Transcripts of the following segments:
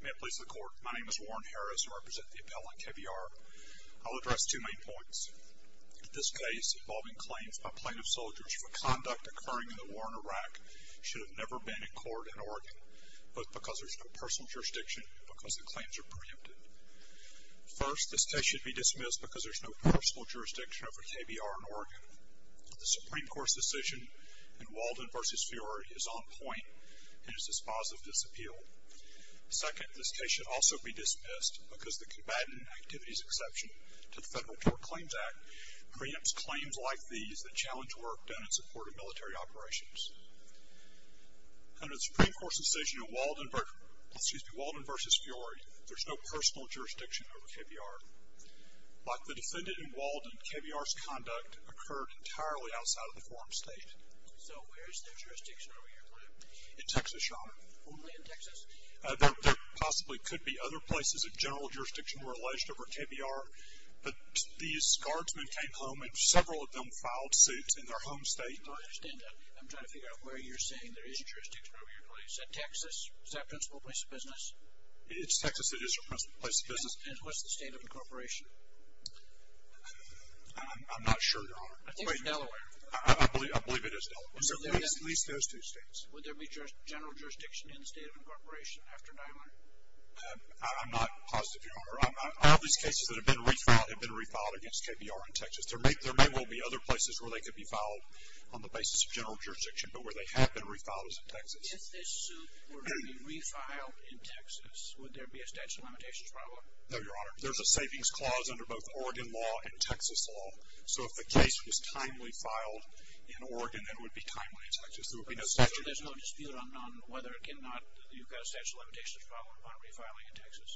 May it please the court, my name is Warren Harris, I represent the appellant KBR. I'll address two main points. This case involving claims by plaintiff soldiers for conduct occurring in the war in Iraq should have never been in court in Oregon, both because there's no personal jurisdiction and because the claims are preempted. First, this case should be dismissed because there's no personal jurisdiction over KBR in Oregon. The Supreme Court's decision in Walden v. Fiore is on point and is dispositive of this appeal. Second, this case should also be dismissed because the combatant activities exception to the Federal Tort Claims Act preempts claims like these that challenge work done in support of military operations. Under the Supreme Court's decision in Walden v. Fiore, there's no personal jurisdiction over KBR. Like the defendant in Walden, KBR's conduct occurred entirely outside of the forum state. So where is there jurisdiction over your claim? In Texas, Your Honor. Only in Texas? There possibly could be other places of general jurisdiction where alleged over KBR, but these guardsmen came home and several of them filed suits in their home state. I understand that. I'm trying to figure out where you're saying there is jurisdiction over your claim. Is that Texas? Is that a principal place of business? It's Texas. It is a principal place of business. And what's the state of incorporation? I'm not sure, Your Honor. I think it's Delaware. I believe it is Delaware. At least those two states. Would there be general jurisdiction in the state of incorporation after Nyland? I'm not positive, Your Honor. I have these cases that have been refiled against KBR in Texas. There may well be other places where they could be filed on the basis of general jurisdiction, but where they have been refiled is in Texas. If this suit were to be refiled in Texas, would there be a statute of limitations problem? No, Your Honor. There's a savings clause under both Oregon law and Texas law. So if the case was timely filed in Oregon, then it would be timely in Texas. There would be no statute. So there's no dispute on whether or not you've got a statute of limitations problem upon refiling in Texas?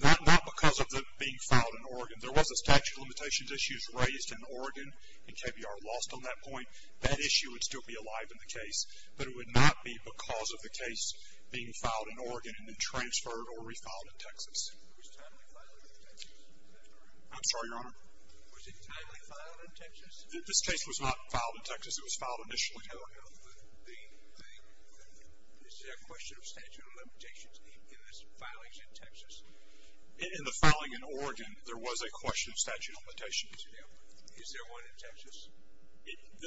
Not because of it being filed in Oregon. There was a statute of limitations issue raised in Oregon, and KBR lost on that point. That issue would still be alive in the case, but it would not be because of the case being filed in Oregon and then transferred or refiled in Texas. Was it timely filed in Texas? I'm sorry, Your Honor? Was it timely filed in Texas? This case was not filed in Texas. It was filed initially. No, no. Is there a question of statute of limitations in this filing in Texas? In the filing in Oregon, there was a question of statute of limitations. Is there one in Texas?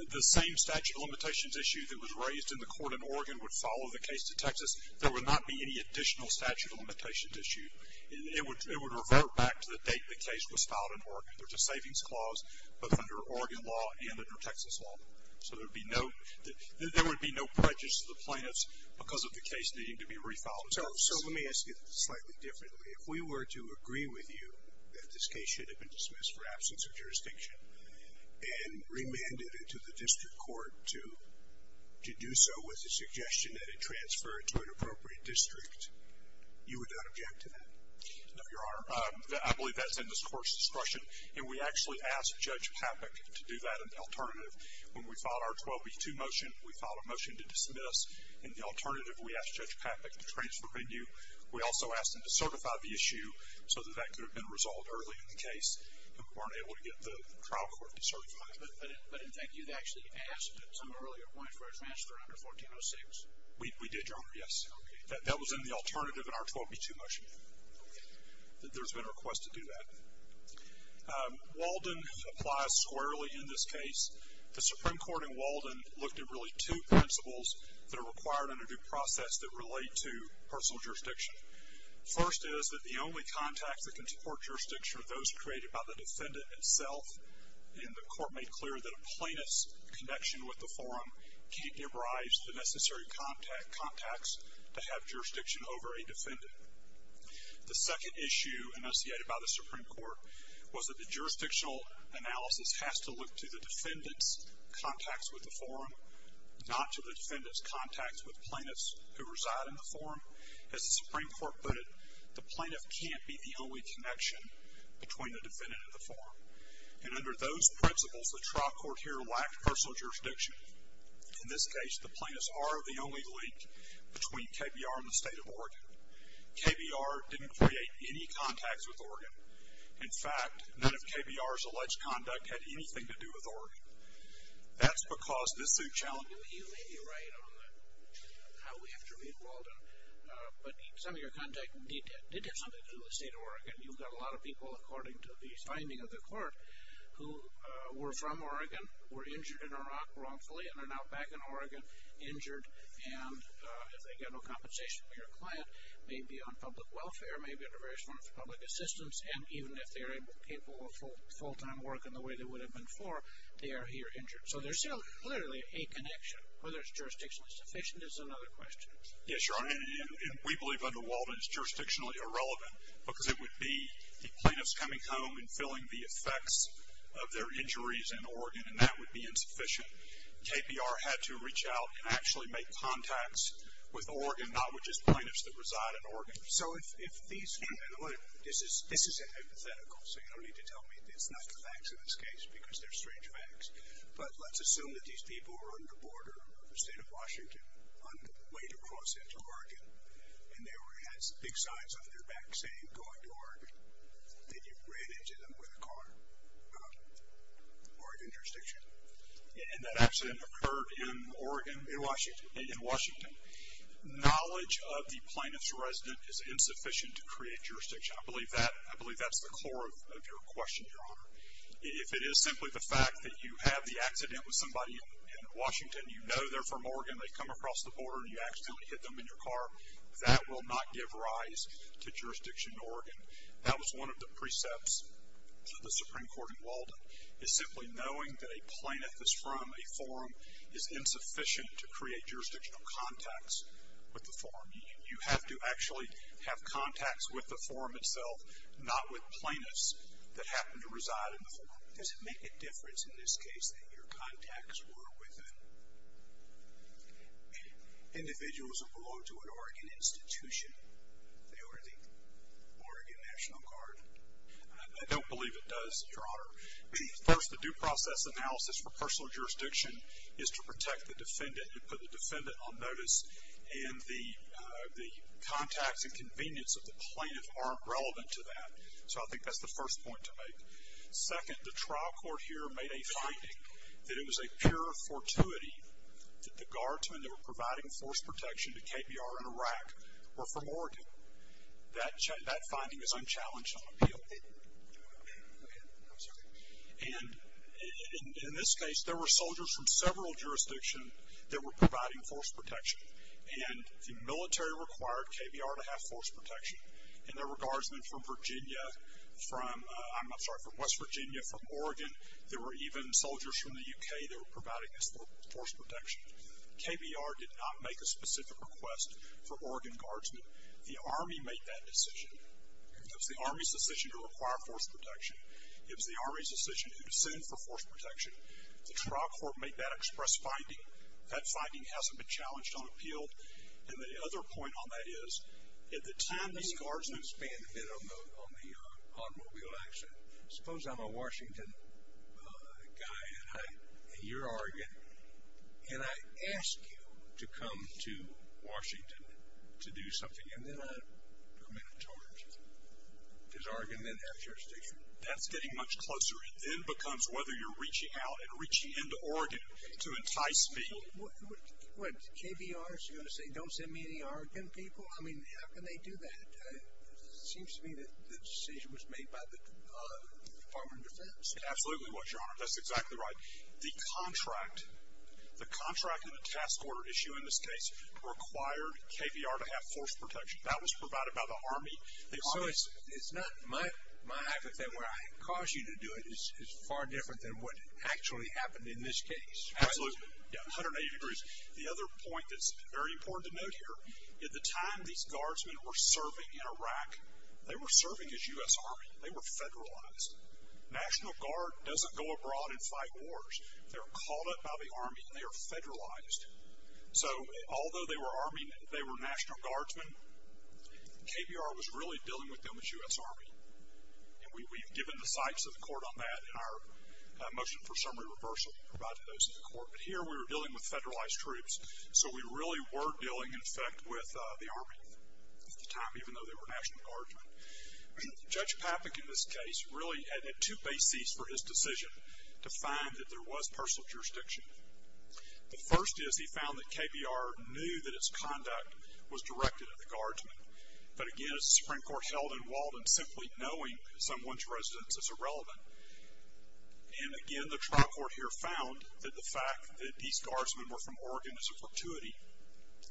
The same statute of limitations issue that was raised in the court in Oregon would follow the case to Texas. There would not be any additional statute of limitations issue. It would revert back to the date the case was filed in Oregon. There's a savings clause both under Oregon law and under Texas law. So there would be no prejudice to the plaintiffs because of the case needing to be refiled in Texas. So let me ask you this slightly differently. If we were to agree with you that this case should have been dismissed for absence of jurisdiction and remanded it to the district court to do so with the suggestion that it transfer it to an appropriate district, you would not object to that? No, Your Honor. I believe that's in this court's discretion, and we actually asked Judge Papik to do that in the alternative. When we filed our 12B2 motion, we filed a motion to dismiss. In the alternative, we asked Judge Papik to transfer venue. We also asked him to certify the issue so that that could have been resolved early in the case, and we weren't able to get the trial court to certify it. But, in fact, you actually asked at some earlier point for a transfer under 1406. We did, Your Honor, yes. Okay. That was in the alternative in our 12B2 motion. Okay. There's been a request to do that. Walden applies squarely in this case. The Supreme Court in Walden looked at really two principles that are required in a due process that relate to personal jurisdiction. First is that the only contacts that can support jurisdiction are those created by the defendant itself, and the court made clear that a plaintiff's connection with the forum can't give rise to necessary contacts to have jurisdiction over a defendant. The second issue enunciated by the Supreme Court was that the jurisdictional analysis has to look to the defendant's contacts with the forum, not to the defendant's contacts with plaintiffs who reside in the forum. As the Supreme Court put it, the plaintiff can't be the only connection between the defendant and the forum. And under those principles, the trial court here lacked personal jurisdiction. In this case, the plaintiffs are the only link between KBR and the State of Oregon. KBR didn't create any contacts with Oregon. In fact, none of KBR's alleged conduct had anything to do with Oregon. That's because this is a challenge. You may be right on how we have to read Walden, but some of your contacts did have something to do with the State of Oregon. You've got a lot of people, according to the finding of the court, who were from Oregon, were injured in Iraq wrongfully, and are now back in Oregon, injured, and if they get no compensation from your client, may be on public welfare, may be under various forms of public assistance, and even if they are capable of full-time work in the way they would have been before, they are here injured. So there's clearly a connection. Whether it's jurisdictionally sufficient is another question. Yes, Your Honor, and we believe under Walden it's jurisdictionally irrelevant, because it would be the plaintiffs coming home and filling the effects of their injuries in Oregon, and that would be insufficient. KBR had to reach out and actually make contacts with Oregon, not with just plaintiffs that reside in Oregon. So if these people, and look, this is a hypothetical, so you don't need to tell me it's not the facts in this case, because they're strange facts, but let's assume that these people were on the border of the State of Washington on the way to cross into Oregon, and they had big signs on their back saying, going to Oregon. Then you ran into them with a car. Oregon jurisdiction. And that accident occurred in Oregon? In Washington. In Washington. Knowledge of the plaintiff's resident is insufficient to create jurisdiction. I believe that's the core of your question, Your Honor. If it is simply the fact that you have the accident with somebody in Washington, you know they're from Oregon, they come across the border, and you accidentally hit them in your car, that will not give rise to jurisdiction in Oregon. That was one of the precepts to the Supreme Court in Walden, is simply knowing that a plaintiff is from a forum is insufficient to create jurisdictional contacts with the forum. You have to actually have contacts with the forum itself, not with plaintiffs that happen to reside in the forum. Does it make a difference in this case that your contacts were with individuals who belonged to an Oregon institution? They were the Oregon National Guard. I don't believe it does, Your Honor. First, the due process analysis for personal jurisdiction is to protect the defendant. You put the defendant on notice, and the contacts and convenience of the plaintiff aren't relevant to that. So I think that's the first point to make. Second, the trial court here made a finding that it was a pure fortuity that the guardsmen that were providing force protection to KBR in Iraq were from Oregon. That finding is unchallenged on appeal. And in this case, there were soldiers from several jurisdictions that were providing force protection, and the military required KBR to have force protection. And there were guardsmen from West Virginia, from Oregon. There were even soldiers from the U.K. that were providing this force protection. KBR did not make a specific request for Oregon guardsmen. The Army made that decision. It was the Army's decision to require force protection. It was the Army's decision who to send for force protection. The trial court made that express finding. That finding hasn't been challenged on appeal. And the other point on that is, at the time these guardsmen— I'm going to expand a bit on the automobile accident. Suppose I'm a Washington guy, and you're Oregon, and I ask you to come to Washington to do something, and then I permit a charge. Because Oregon didn't have jurisdiction. That's getting much closer. It then becomes whether you're reaching out and reaching into Oregon to entice me. What, KBR is going to say, don't send me any Oregon people? I mean, how can they do that? It seems to me that the decision was made by the Department of Defense. It absolutely was, Your Honor. That's exactly right. The contract, the contract in the task order issue in this case, required KBR to have force protection. That was provided by the Army. So it's not my accident where I caused you to do it. It's far different than what actually happened in this case. Absolutely. 180 degrees. The other point that's very important to note here, at the time these guardsmen were serving in Iraq, they were serving as U.S. Army. They were federalized. National Guard doesn't go abroad and fight wars. They're called up by the Army and they are federalized. So although they were Army and they were national guardsmen, KBR was really dealing with them as U.S. Army. And we've given the sites of the court on that and our motion for summary reversal provided those to the court. But here we were dealing with federalized troops. So we really were dealing, in effect, with the Army at the time, even though they were national guardsmen. Judge Papik, in this case, really had two bases for his decision to find that there was personal jurisdiction. The first is he found that KBR knew that its conduct was directed at the guardsmen. But, again, as the Supreme Court held in Walden, simply knowing someone's residence is irrelevant. And, again, the trial court here found that the fact that these guardsmen were from Oregon is a fortuity.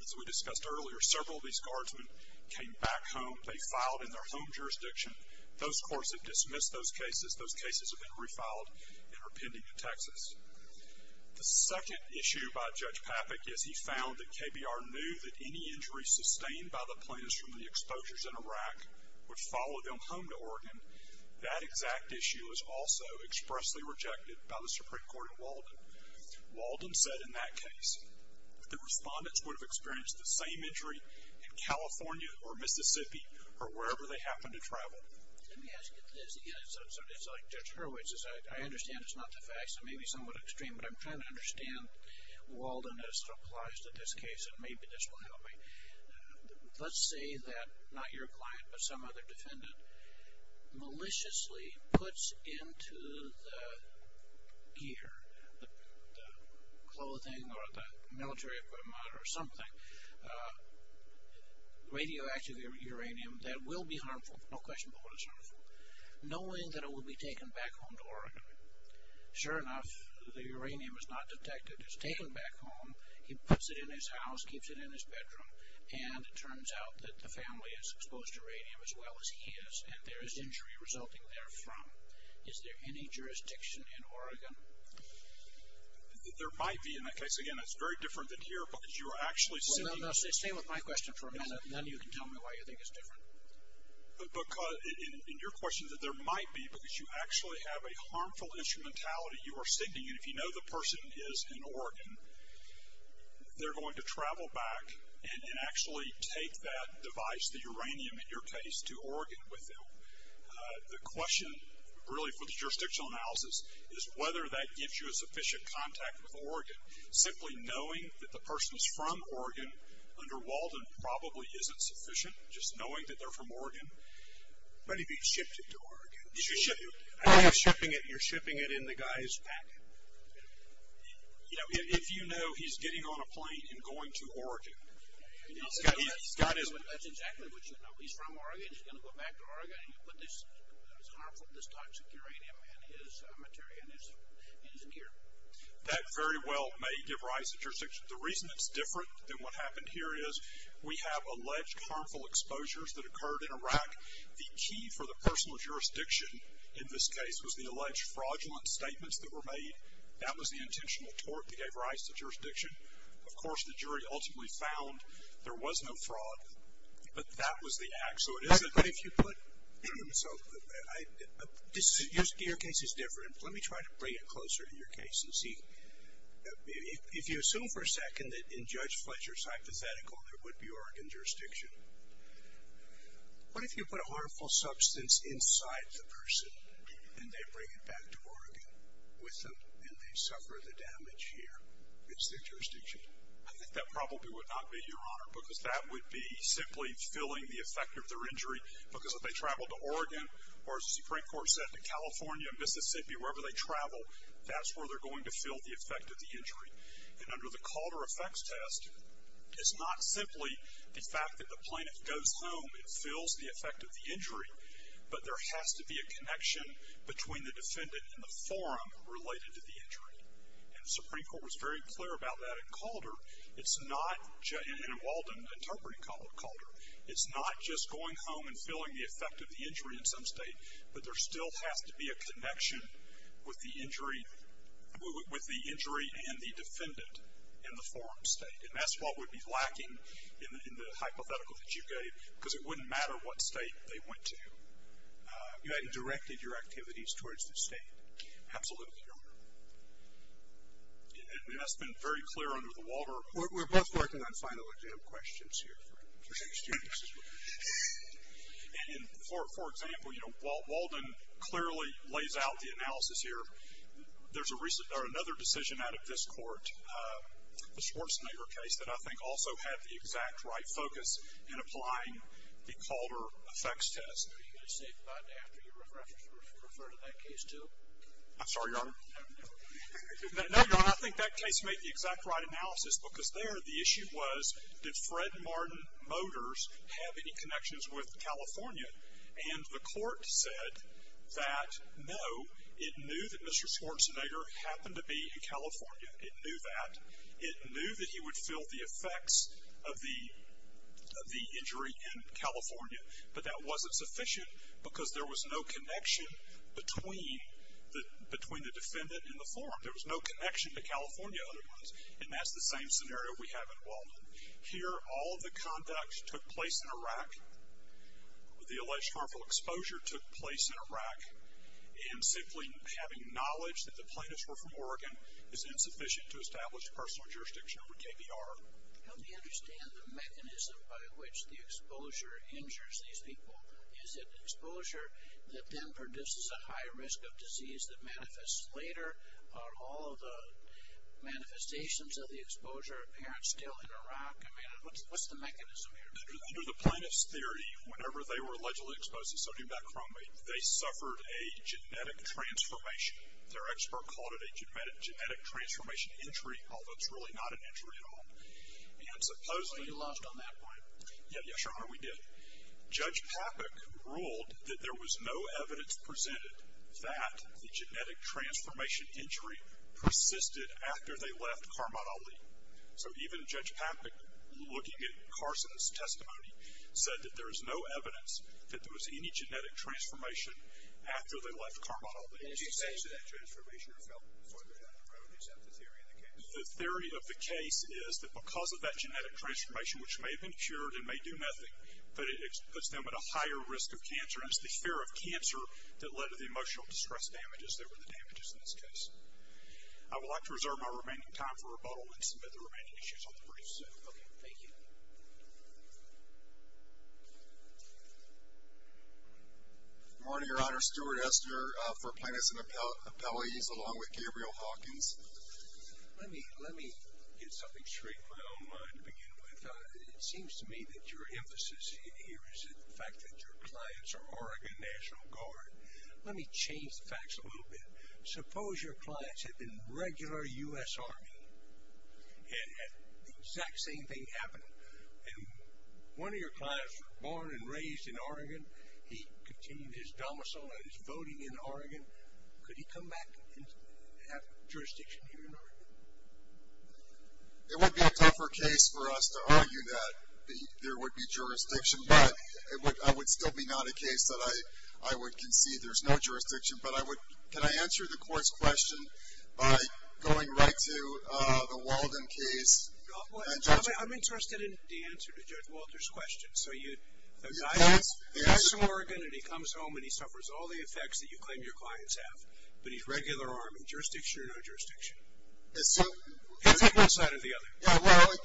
As we discussed earlier, several of these guardsmen came back home. They filed in their home jurisdiction. Those courts have dismissed those cases. Those cases have been refiled and are pending in Texas. The second issue by Judge Papik is he found that KBR knew that any injury sustained by the plaintiffs from the exposures in Iraq would follow them home to Oregon. That exact issue was also expressly rejected by the Supreme Court in Walden. Walden said in that case that the respondents would have experienced the same injury in California or Mississippi or wherever they happened to travel. Let me ask you this. Again, it's like Judge Hurwitz. I understand it's not the facts. It may be somewhat extreme. But I'm trying to understand Walden as it applies to this case, and maybe this will help me. Let's say that not your client but some other defendant maliciously puts into the gear, the clothing or the military equipment or something, radioactive uranium that will be harmful. No question about it, it's harmful. Knowing that it will be taken back home to Oregon. Sure enough, the uranium is not detected. It's taken back home. He puts it in his house, keeps it in his bedroom, and it turns out that the family is exposed to uranium as well as he is, and there is injury resulting therefrom. Is there any jurisdiction in Oregon? There might be. In that case, again, it's very different than here because you are actually seeking. Well, no, stay with my question for a minute, and then you can tell me why you think it's different. Because in your question that there might be because you actually have a harmful instrumentality you are seeking. And if you know the person is in Oregon, they're going to travel back and actually take that device, the uranium in your case, to Oregon with them. The question really for the jurisdictional analysis is whether that gives you a sufficient contact with Oregon. Simply knowing that the person is from Oregon under Walden probably isn't sufficient, just knowing that they're from Oregon. What if he shipped it to Oregon? I have shipping it, and you're shipping it in the guy's back. You know, if you know he's getting on a plane and going to Oregon. That's exactly what you know. He's from Oregon. He's going to go back to Oregon, and you put this harmful, this toxic uranium in his material in his gear. That very well may give rise to jurisdiction. The reason it's different than what happened here is we have alleged harmful exposures that occurred in Iraq. The key for the personal jurisdiction in this case was the alleged fraudulent statements that were made. That was the intentional tort that gave rise to jurisdiction. Of course, the jury ultimately found there was no fraud, but that was the act, so it isn't. But if you put, so your case is different. Let me try to bring it closer to your case and see. If you assume for a second that in Judge Fletcher's hypothetical, there would be Oregon jurisdiction, what if you put a harmful substance inside the person, and they bring it back to Oregon with them, and they suffer the damage here? It's their jurisdiction. I think that probably would not be, Your Honor, because that would be simply filling the effect of their injury, because if they travel to Oregon, or as the Supreme Court said, to California, Mississippi, wherever they travel, that's where they're going to fill the effect of the injury. And under the Calder effects test, it's not simply the fact that the plaintiff goes home and fills the effect of the injury, but there has to be a connection between the defendant and the forum related to the injury. And the Supreme Court was very clear about that in Calder. It's not, in Walden interpreting Calder, it's not just going home and filling the effect of the injury in some state, but there still has to be a connection with the injury, with the injury and the defendant in the forum state. And that's what would be lacking in the hypothetical that you gave, because it wouldn't matter what state they went to. You hadn't directed your activities towards the state. Absolutely, Your Honor. And that's been very clear under the Walder report. We're both working on final exam questions here. And for example, Walden clearly lays out the analysis here. There's another decision out of this court, the Schwarzenegger case, that I think also had the exact right focus in applying the Calder effects test. I'm sorry, Your Honor. No, Your Honor, I think that case made the exact right analysis, because there the issue was, did Fred Martin Motors have any connections with California? And the court said that no, it knew that Mr. Schwarzenegger happened to be in California. It knew that. It knew that he would feel the effects of the injury in California, but that wasn't sufficient, because there was no connection between the defendant and the forum. There was no connection to California otherwise. And that's the same scenario we have in Walden. Here, all the conduct took place in Iraq. The alleged harmful exposure took place in Iraq. And simply having knowledge that the plaintiffs were from Oregon is insufficient to establish personal jurisdiction over KBR. How do you understand the mechanism by which the exposure injures these people? Is it exposure that then produces a high risk of disease that manifests later? Are all the manifestations of the exposure apparent still in Iraq? I mean, what's the mechanism here? Under the plaintiff's theory, whenever they were allegedly exposed to sodium bicarbonate, they suffered a genetic transformation. Their expert called it a genetic transformation injury, although it's really not an injury at all. And supposedly... You lodged on that point. Yes, Your Honor, we did. Judge Papik ruled that there was no evidence presented that the genetic transformation injury persisted after they left Karmad Ali. So even Judge Papik, looking at Carson's testimony, said that there is no evidence that there was any genetic transformation after they left Karmad Ali. And it's the same genetic transformation that fell further down the road, except the theory of the case. The theory of the case is that because of that genetic transformation, which may have been cured and may do nothing, but it puts them at a higher risk of cancer, and it's the fear of cancer that led to the emotional distress damages that were the damages in this case. I would like to reserve my remaining time for rebuttal and submit the remaining issues on the briefs. Okay, thank you. Marty, Your Honor, Stuart Esther for plaintiffs and appellees, along with Gabriel Hawkins. Let me get something straight in my own mind to begin with. It seems to me that your emphasis here is the fact that your clients are Oregon National Guard. Let me change the facts a little bit. Suppose your clients had been regular U.S. Army and had the exact same thing happen to them. One of your clients was born and raised in Oregon. He continued his domicile and his voting in Oregon. Could he come back and have jurisdiction here in Oregon? It would be a tougher case for us to argue that there would be jurisdiction, but it would still be not a case that I would concede there's no jurisdiction. But can I answer the court's question by going right to the Walden case? I'm interested in the answer to Judge Walter's question. He's from Oregon and he comes home and he suffers all the effects that you claim your clients have, but he's regular Army. Jurisdiction or no jurisdiction? It's either one side or the other. Well,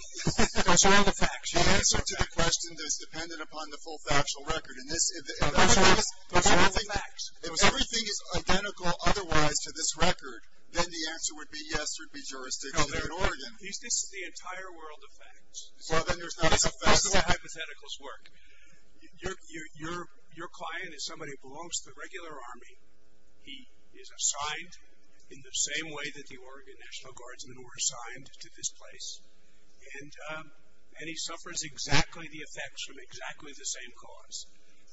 there's all the facts. The answer to the question is dependent upon the full factual record. There's all the facts. If everything is identical otherwise to this record, then the answer would be yes, there would be jurisdiction in Oregon. This is the entire world of facts. Well, then there's not enough facts. That's the way hypotheticals work. Your client is somebody who belongs to the regular Army. He is assigned in the same way that the Oregon National Guardsmen were assigned to this place, and he suffers exactly the effects from exactly the same cause.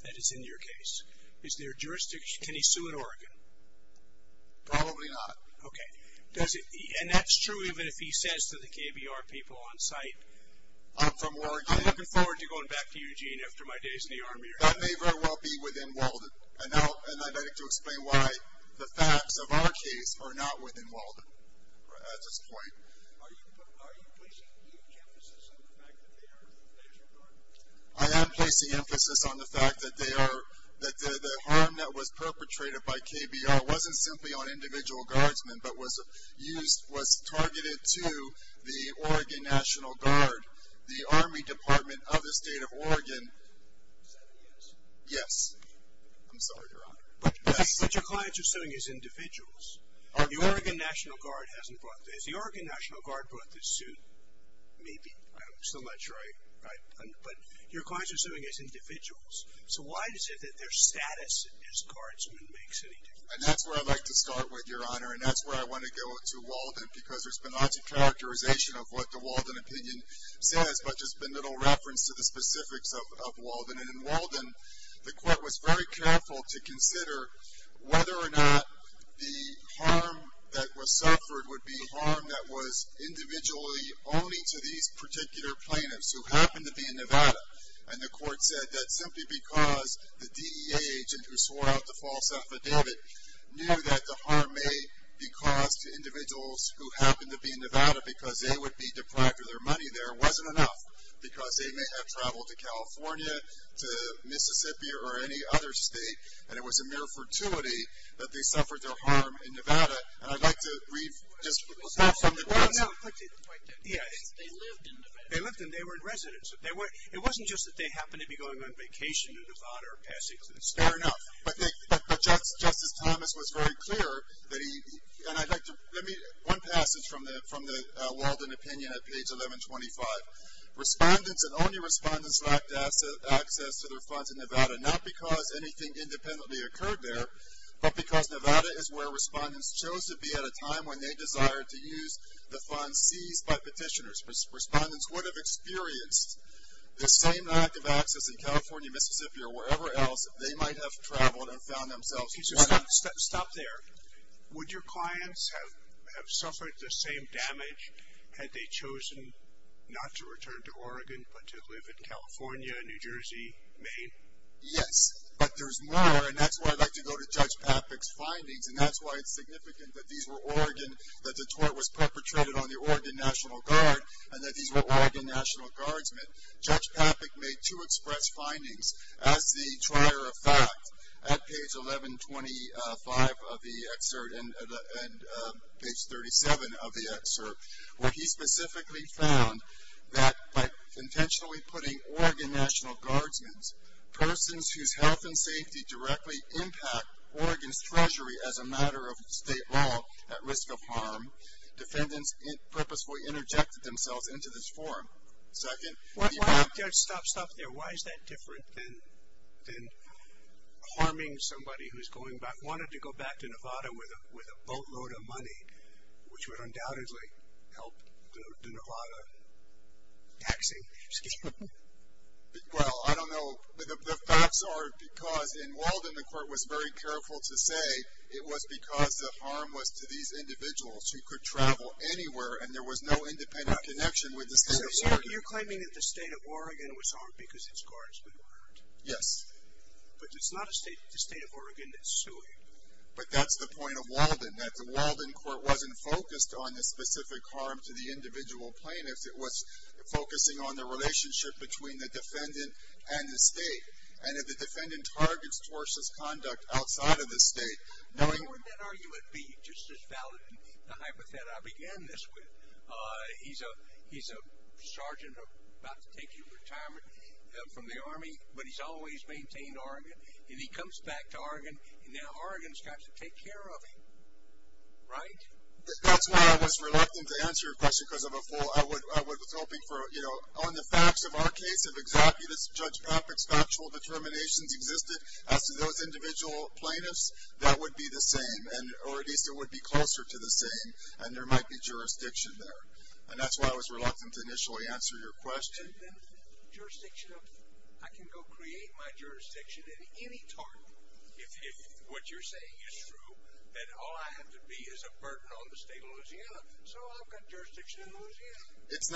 That is in your case. Is there jurisdiction? Can he sue in Oregon? Probably not. Okay. And that's true even if he says to the KBR people on site, I'm looking forward to going back to Eugene after my days in the Army. That may very well be within Walden, and I'd like to explain why the facts of our case are not within Walden at this point. Are you placing huge emphasis on the fact that they are the National Guardsmen? I am placing emphasis on the fact that the harm that was perpetrated by KBR wasn't simply on individual guardsmen but was targeted to the Oregon National Guard, the Army Department of the State of Oregon. Is that a yes? Yes. I'm sorry, Your Honor. But your clients are suing as individuals. The Oregon National Guard hasn't brought this. The Oregon National Guard brought this suit, maybe. I'm still not sure. But your clients are suing as individuals. So why is it that their status as guardsmen makes any difference? And that's where I'd like to start with, Your Honor. And that's where I want to go to Walden because there's been lots of characterization of what the Walden opinion says, but there's been little reference to the specifics of Walden. And in Walden, the court was very careful to consider whether or not the harm that was suffered would be harm that was individually only to these particular plaintiffs who happened to be in Nevada. And the court said that simply because the DEA agent who swore out the false affidavit knew that the harm may be caused to individuals who happened to be in Nevada because they would be deprived of their money there wasn't enough because they may have traveled to California, to Mississippi, or any other state, and it was a mere fortuity that they suffered the harm in Nevada. And I'd like to read just a little bit from the court's opinion. They lived and they were in residence. It wasn't just that they happened to be going on vacation to Nevada or passing through the state. Fair enough. But Justice Thomas was very clear that he, and I'd like to, let me, one passage from the Walden opinion at page 1125. Respondents and only respondents lacked access to their funds in Nevada, not because anything independently occurred there, but because Nevada is where respondents chose to be at a time when they desired to use the funds seized by petitioners. Respondents would have experienced the same lack of access in California, Mississippi, or wherever else they might have traveled and found themselves. Stop there. Would your clients have suffered the same damage had they chosen not to return to Oregon but to live in California, New Jersey, Maine? Yes, but there's more, and that's why I'd like to go to Judge Papik's findings, and that's why it's significant that these were Oregon, that the tort was perpetrated on the Oregon National Guard and that these were Oregon National Guardsmen. Judge Papik made two express findings. As the trier of fact, at page 1125 of the excerpt and page 37 of the excerpt, where he specifically found that by intentionally putting Oregon National Guardsmen, persons whose health and safety directly impact Oregon's treasury as a matter of state law at risk of harm, defendants purposefully interjected themselves into this forum. Second. Stop there. Why is that different than harming somebody who's going back, wanted to go back to Nevada with a boatload of money, which would undoubtedly help the Nevada taxing scheme? Well, I don't know. The facts are because in Walden, the court was very careful to say it was because the harm was to these individuals who could travel anywhere and there was no independent connection with the state of Oregon. So you're claiming that the state of Oregon was harmed because its guardsmen were harmed? Yes. But it's not the state of Oregon that's suing. But that's the point of Walden, that the Walden court wasn't focused on the specific harm to the individual plaintiffs. It was focusing on the relationship between the defendant and the state. And if the defendant targets towards his conduct outside of the state. Why would that argument be just as valid as the hypothet I began this with? He's a sergeant about to take retirement from the Army, but he's always maintained Oregon. And he comes back to Oregon, and now Oregon's got to take care of him. Right? That's why I was reluctant to answer your question because I'm a fool. I was hoping for, you know, on the facts of our case, if exactly this Judge Popek's factual determinations existed, as to those individual plaintiffs, that would be the same. Or at least it would be closer to the same. And there might be jurisdiction there. And that's why I was reluctant to initially answer your question. And then jurisdiction of, I can go create my jurisdiction at any time. If what you're saying is true, then all I have to be is a burden on the state of Louisiana. So I've got jurisdiction in Louisiana. It's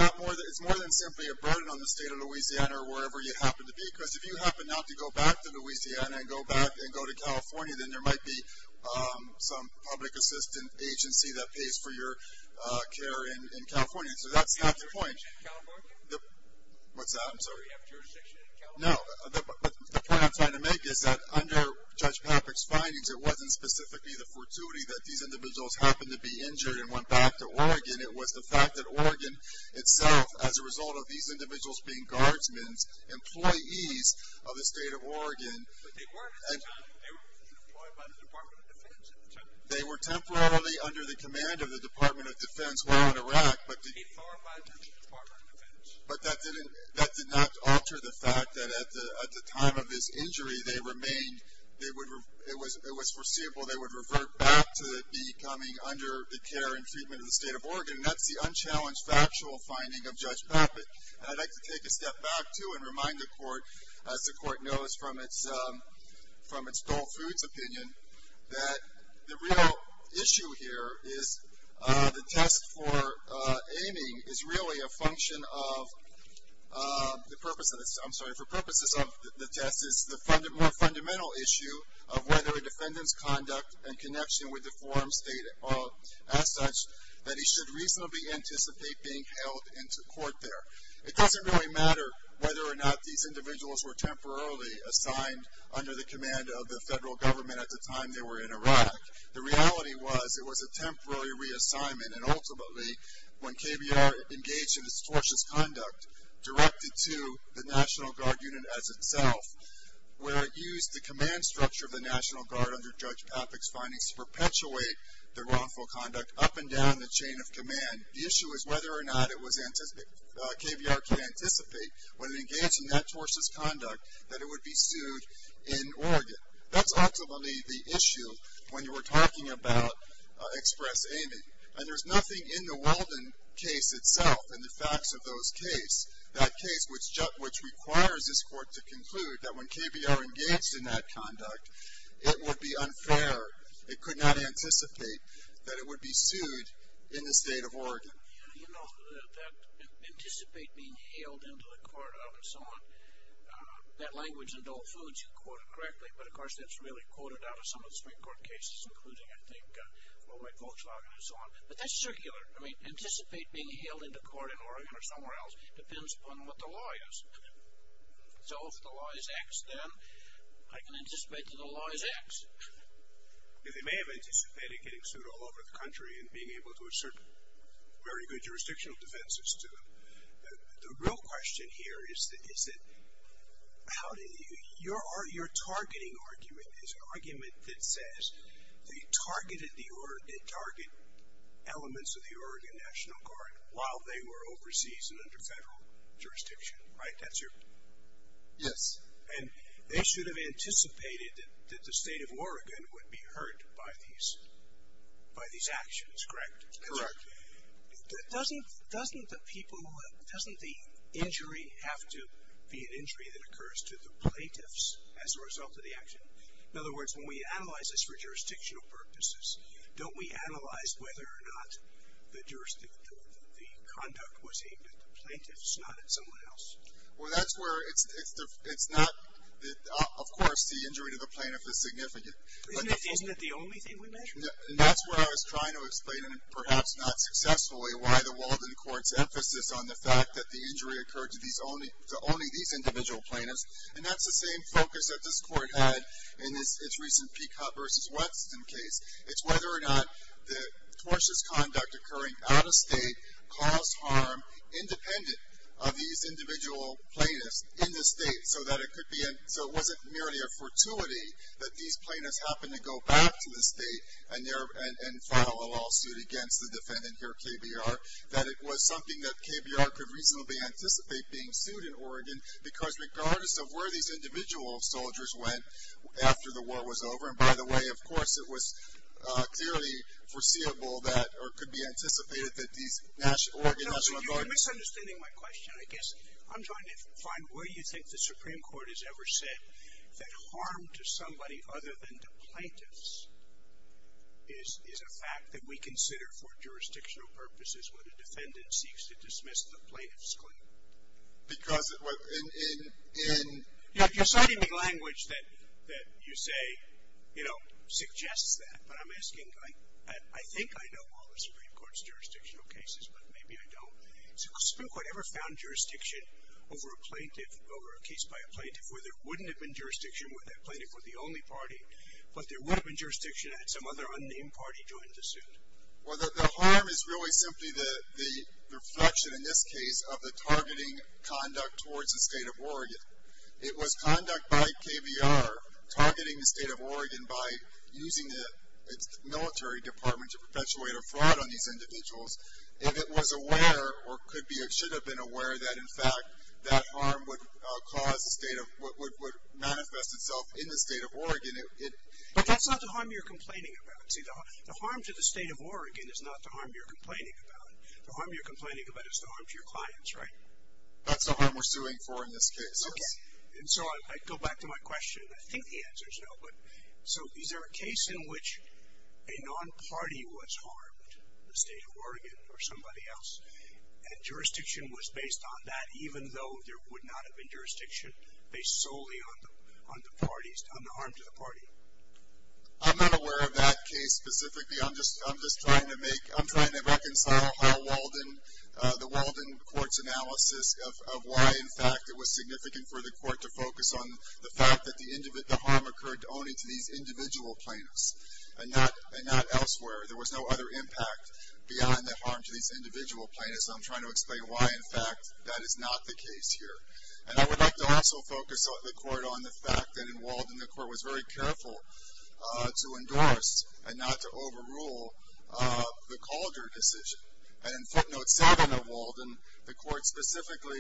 more than simply a burden on the state of Louisiana or wherever you happen to be. Because if you happen not to go back to Louisiana and go back and go to California, then there might be some public assistance agency that pays for your care in California. So that's not the point. Do you have jurisdiction in California? What's that? I'm sorry. Do you have jurisdiction in California? No. The point I'm trying to make is that under Judge Popek's findings, it wasn't specifically the fortuity that these individuals happened to be injured and went back to Oregon. It was the fact that Oregon itself, as a result of these individuals being guardsmen, employees of the state of Oregon. They weren't. They were employed by the Department of Defense. They were temporarily under the command of the Department of Defense while in Iraq. They were employed by the Department of Defense. But that did not alter the fact that at the time of this injury, they remained. It was foreseeable they would revert back to becoming under the care and treatment of the state of Oregon. And that's the unchallenged factual finding of Judge Popek. And I'd like to take a step back, too, and remind the Court, as the Court knows from its Gold Foods opinion, that the real issue here is the test for aiming is really a function of the purpose of this. I'm sorry, for purposes of the test, it's the more fundamental issue of whether a defendant's conduct and connection with the forum state as such that he should reasonably anticipate being held into court there. It doesn't really matter whether or not these individuals were temporarily assigned under the command of the federal government at the time they were in Iraq. The reality was it was a temporary reassignment. And ultimately, when KBR engaged in its tortious conduct, directed to the National Guard unit as itself, where it used the command structure of the National Guard under Judge Popek's findings to perpetuate their wrongful conduct up and down the chain of command. The issue is whether or not KBR can anticipate, when it engaged in that tortious conduct, that it would be sued in Oregon. That's ultimately the issue when you were talking about express aiming. And there's nothing in the Walden case itself, in the facts of those cases, that case which requires this Court to conclude that when KBR engaged in that conduct, it would be unfair, it could not anticipate that it would be sued in the state of Oregon. You know, that anticipate being hailed into the Court of, and so on, that language in Dole Foods you quoted correctly, but of course that's really quoted out of some of the Supreme Court cases, including, I think, Fulbright-Volkswagen and so on. But that's circular. I mean, anticipate being hailed into court in Oregon or somewhere else depends upon what the law is. So if the law is X, then I can anticipate that the law is X. They may have anticipated getting sued all over the country and being able to assert very good jurisdictional defenses to them. The real question here is that your targeting argument is an argument that says they targeted elements of the Oregon National Guard while they were overseas and under federal jurisdiction, right? That's your? Yes. And they should have anticipated that the state of Oregon would be hurt by these actions, correct? Correct. Doesn't the injury have to be an injury that occurs to the plaintiffs as a result of the action? In other words, when we analyze this for jurisdictional purposes, don't we analyze whether or not the conduct was aimed at the plaintiffs, not at someone else? Well, that's where it's not. Of course, the injury to the plaintiff is significant. Isn't it the only thing we measure? That's what I was trying to explain, and perhaps not successfully, why the Walden Court's emphasis on the fact that the injury occurred to only these individual plaintiffs, and that's the same focus that this Court had in its recent Peacock v. Weston case. It's whether or not the tortious conduct occurring out of state caused harm to these individual plaintiffs in the state, so it wasn't merely a fortuity that these plaintiffs happened to go back to the state and file a lawsuit against the defendant here, KBR, that it was something that KBR could reasonably anticipate being sued in Oregon because regardless of where these individual soldiers went after the war was over, and by the way, of course, it was clearly foreseeable that or could be anticipated that these individuals would go back to the state and file a lawsuit against the And that's what we're trying to do here. We're trying to find where you think the Supreme Court has ever said that harm to somebody other than to plaintiffs is a fact that we consider for jurisdictional purposes when a defendant seeks to dismiss the plaintiff's claim. Because in the language that you say suggests that, but I'm asking, I think I know all the Supreme Court's jurisdictional cases, but maybe I don't. Has the Supreme Court ever found jurisdiction over a plaintiff, over a case by a plaintiff where there wouldn't have been jurisdiction where that plaintiff was the only party, but there would have been jurisdiction had some other unnamed party joined the suit? Well, the harm is really simply the reflection in this case of the targeting conduct towards the state of Oregon. It was conduct by KBR targeting the state of Oregon by using the military department to perpetuate a fraud on these individuals. If it was aware or could be or should have been aware that, in fact, that harm would cause the state of, would manifest itself in the state of Oregon. But that's not the harm you're complaining about. See, the harm to the state of Oregon is not the harm you're complaining about. The harm you're complaining about is the harm to your clients, right? That's the harm we're suing for in this case. Okay. And so I go back to my question. I think the answer is no. But so is there a case in which a non-party was harmed, the state of Oregon or somebody else, and jurisdiction was based on that, even though there would not have been jurisdiction based solely on the parties, on the harm to the party? I'm not aware of that case specifically. I'm just trying to make, I'm trying to reconcile how Walden, the Walden court's analysis of why, in fact, it was significant for the court to focus on the fact that the harm occurred only to these individual plaintiffs and not elsewhere. There was no other impact beyond the harm to these individual plaintiffs, and I'm trying to explain why, in fact, that is not the case here. And I would like to also focus the court on the fact that in Walden the court was very careful to endorse and not to overrule the Calder decision. And in footnote seven of Walden, the court specifically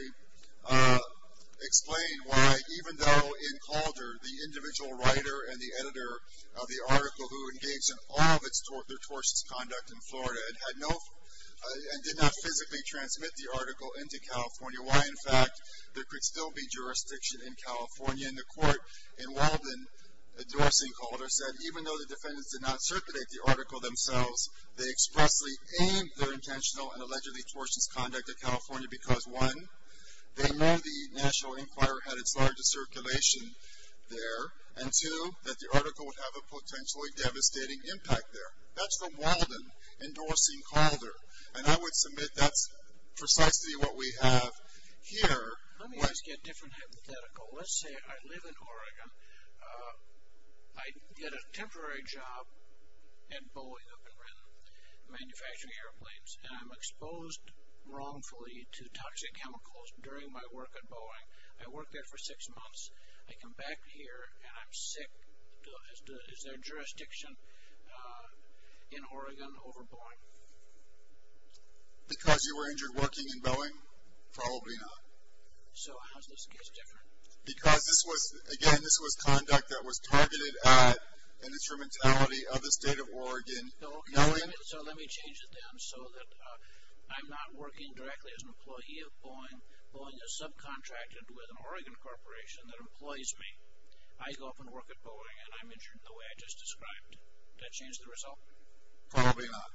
explained why even though in Calder the individual writer and the editor of the article who engaged in all of their tortious conduct in Florida and had no, and did not physically transmit the article into California, why, in fact, there could still be jurisdiction in California. And the court in Walden endorsing Calder said even though the defendants did not circulate the article themselves, they expressly aimed their intentional and allegedly tortious conduct at California because, one, they know the national inquiry had its largest circulation there, and, two, that the article would have a potentially devastating impact there. That's the Walden endorsing Calder. And I would submit that's precisely what we have here. Let me ask you a different hypothetical. Let's say I live in Oregon. I get a temporary job at Boeing, I've been in manufacturing airplanes, and I'm exposed wrongfully to toxic chemicals during my work at Boeing. I work there for six months. I come back here and I'm sick. Is there jurisdiction in Oregon over Boeing? Because you were injured working in Boeing? Probably not. So how does this case differ? Because, again, this was conduct that was targeted at an instrumentality of the state of Oregon knowing. So let me change it then so that I'm not working directly as an employee of Boeing but with an Oregon corporation that employs me. I go up and work at Boeing and I'm injured the way I just described. Does that change the result? Probably not.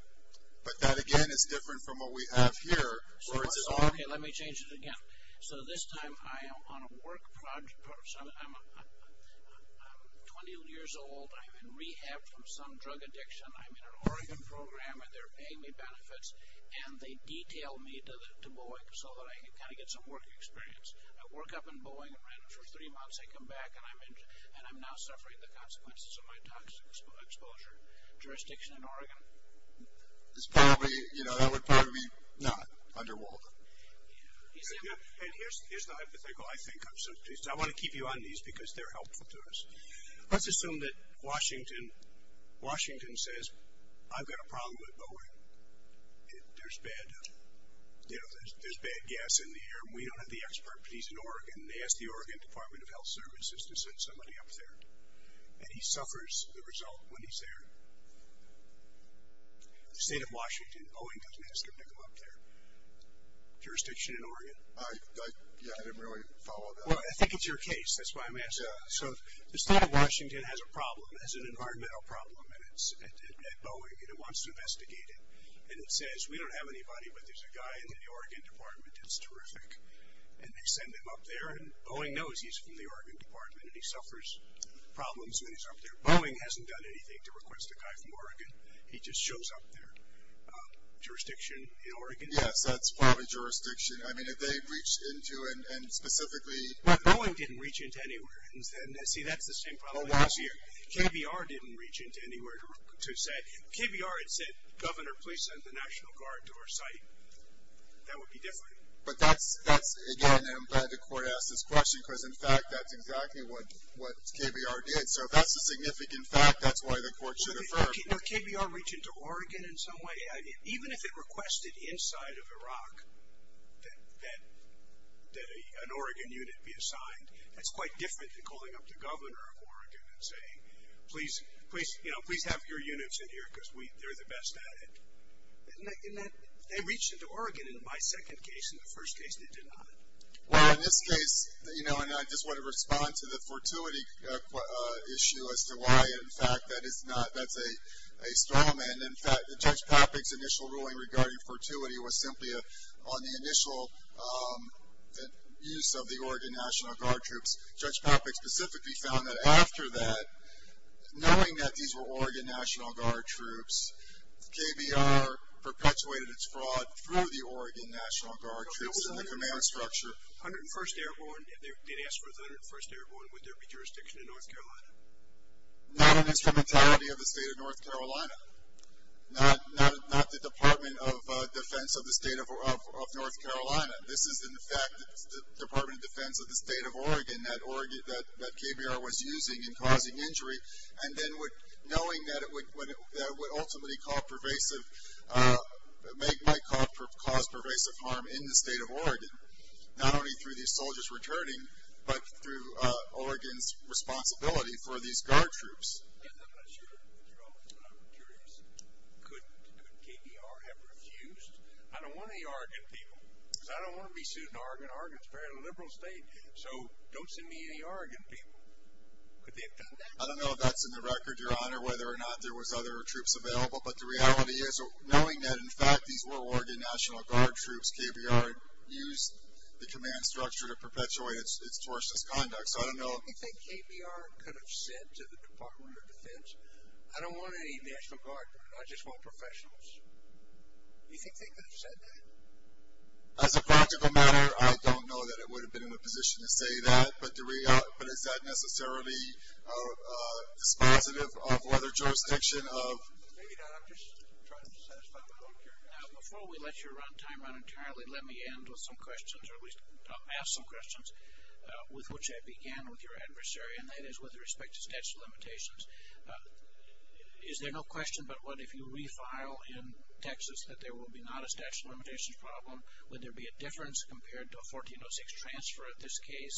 But that, again, is different from what we have here. Okay, let me change it again. So this time I am on a work project. I'm 20 years old. I'm in rehab from some drug addiction. I'm in an Oregon program and they're paying me benefits, and they detail me to Boeing so that I can kind of get some work experience. I work up in Boeing and, for three months, I come back and I'm injured and I'm now suffering the consequences of my toxic exposure. Jurisdiction in Oregon? It's probably, you know, that would probably be not under Walden. And here's the hypothetical. I want to keep you on these because they're helpful to us. Let's assume that Washington says, I've got a problem with Boeing. There's bad, you know, there's bad gas in the air and we don't have the expert, but he's in Oregon, and they ask the Oregon Department of Health Services to send somebody up there. And he suffers the result when he's there. The state of Washington, Boeing doesn't ask him to come up there. Jurisdiction in Oregon? I didn't really follow that. Well, I think it's your case. That's why I'm asking. So the state of Washington has a problem, has an environmental problem at Boeing, and it wants to investigate it. And it says we don't have anybody, but there's a guy in the Oregon Department that's terrific, and they send him up there. And Boeing knows he's from the Oregon Department, and he suffers problems when he's up there. Boeing hasn't done anything to request a guy from Oregon. He just shows up there. Jurisdiction in Oregon? Yes, that's probably jurisdiction. I mean, if they reached into and specifically. Well, Boeing didn't reach into anywhere. See, that's the same problem as last year. KBR didn't reach into anywhere to say. KBR had said, Governor, please send the National Guard to our site. That would be different. But that's, again, I'm glad the court asked this question because, in fact, that's exactly what KBR did. So if that's a significant fact, that's why the court should affirm. No, KBR reached into Oregon in some way. Even if it requested inside of Iraq that an Oregon unit be assigned, that's quite different than calling up the governor of Oregon and saying, please have your units in here because they're the best at it. They reached into Oregon in my second case. In the first case, they did not. Well, in this case, you know, and I just want to respond to the fortuity issue as to why, in fact, that's a storm. And, in fact, Judge Papik's initial ruling regarding fortuity was simply on the initial use of the Oregon National Guard troops. Judge Papik specifically found that after that, knowing that these were Oregon National Guard troops, KBR perpetuated its fraud through the Oregon National Guard troops and the command structure. If they'd asked for 101st Airborne, would there be jurisdiction in North Carolina? Not an instrumentality of the state of North Carolina. Not the Department of Defense of the state of North Carolina. This is, in fact, the Department of Defense of the state of Oregon that KBR was using in causing injury. And then knowing that it would ultimately cause pervasive harm in the state of Oregon, not only through these soldiers returning, but through Oregon's responsibility for these guard troops. I'm not sure if you're on this, but I'm curious. Could KBR have refused? I don't want any Oregon people because I don't want to be sued in Oregon. Oregon's a very liberal state. So don't send me any Oregon people. Could they have done that? I don't know if that's in the record, Your Honor, whether or not there was other troops available. But the reality is, knowing that, in fact, these were Oregon National Guard troops, KBR used the command structure to perpetuate its tortious conduct. So I don't know. Do you think KBR could have said to the Department of Defense, I don't want any National Guard. I just want professionals. Do you think they could have said that? As a practical matter, I don't know that it would have been in a position to say that. But is that necessarily dispositive of whether jurisdiction of? Maybe not. I'm just trying to satisfy my own curiosity. Before we let your time run entirely, let me end with some questions, or at least ask some questions, with which I began with your adversary, and that is with respect to statute of limitations. Is there no question but what if you refile in Texas that there will be not a statute of limitations problem? Would there be a difference compared to a 1406 transfer, in this case,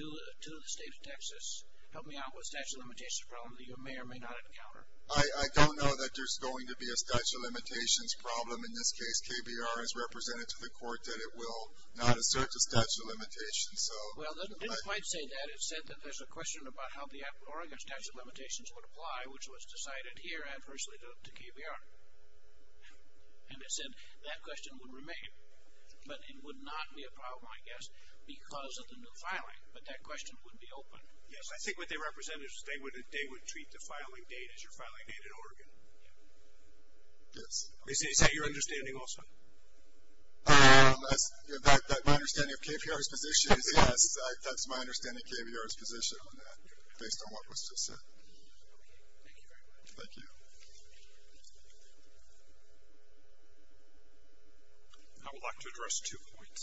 to the state of Texas? Help me out with a statute of limitations problem that you may or may not encounter. I don't know that there's going to be a statute of limitations problem. In this case, KBR has represented to the court that it will not assert a statute of limitations. Well, it didn't quite say that. It said that there's a question about how the Oregon statute of limitations would apply, which was decided here adversely to KBR. And it said that question would remain, but it would not be a problem, I guess, because of the new filing, but that question would be open. Yes, I think what they represented was they would treat the filing date as your filing date in Oregon. Yes. Is that your understanding also? My understanding of KBR's position is yes, that's my understanding of KBR's position on that, based on what was just said. Okay, thank you very much. Thank you. Thank you. I would like to address two points.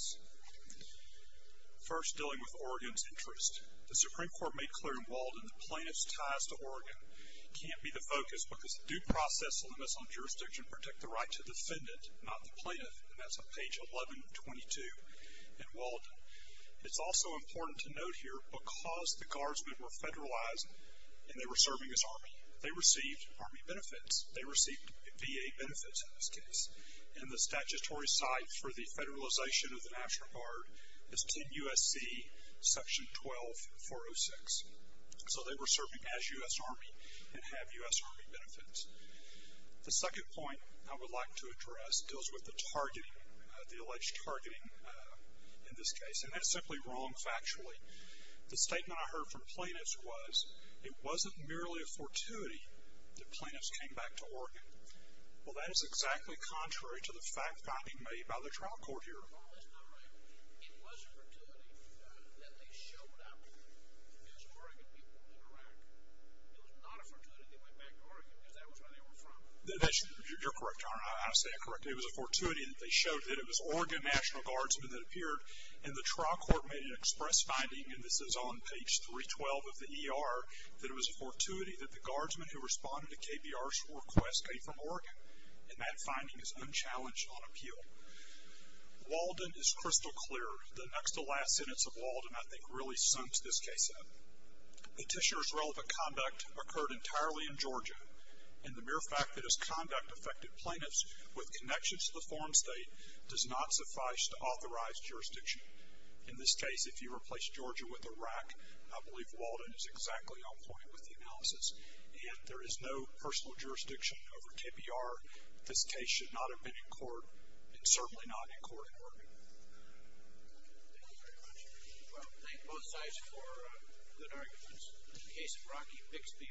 First, dealing with Oregon's interest. The Supreme Court made clear in Walden that plaintiff's ties to Oregon can't be the focus because due process limits on jurisdiction protect the right to defend it, not the plaintiff. And that's on page 1122 in Walden. It's also important to note here, because the guardsmen were federalized and they were serving as Army, they received Army benefits. They received VA benefits in this case. And the statutory site for the federalization of the National Guard is 10 U.S.C. section 12406. So they were serving as U.S. Army and have U.S. Army benefits. The second point I would like to address deals with the targeting, the alleged targeting in this case. And that's simply wrong factually. The statement I heard from plaintiffs was it wasn't merely a fortuity that plaintiffs came back to Oregon. Well, that is exactly contrary to the fact finding made by the trial court here. Paul, that's not right. It was a fortuity that they showed up as Oregon people in Iraq. It was not a fortuity they went back to Oregon because that was where they were from. You're correct, Your Honor. I say I'm correct. It was a fortuity that they showed that it was Oregon National Guardsmen that appeared and the trial court made an express finding, and this is on page 312 of the ER, that it was a fortuity that the guardsmen who responded to KBR's request came from Oregon. And that finding is unchallenged on appeal. Walden is crystal clear. The next to last sentence of Walden, I think, really sums this case up. Petitioner's relevant conduct occurred entirely in Georgia. And the mere fact that his conduct affected plaintiffs with connections to the foreign state does not suffice to authorize jurisdiction. In this case, if you replace Georgia with Iraq, I believe Walden is exactly on point with the analysis. And there is no personal jurisdiction over KBR. This case should not have been in court and certainly not in court in Oregon. Thank you very much. Thank both sides for good arguments. In the case of Rocky Bixby v. KBR,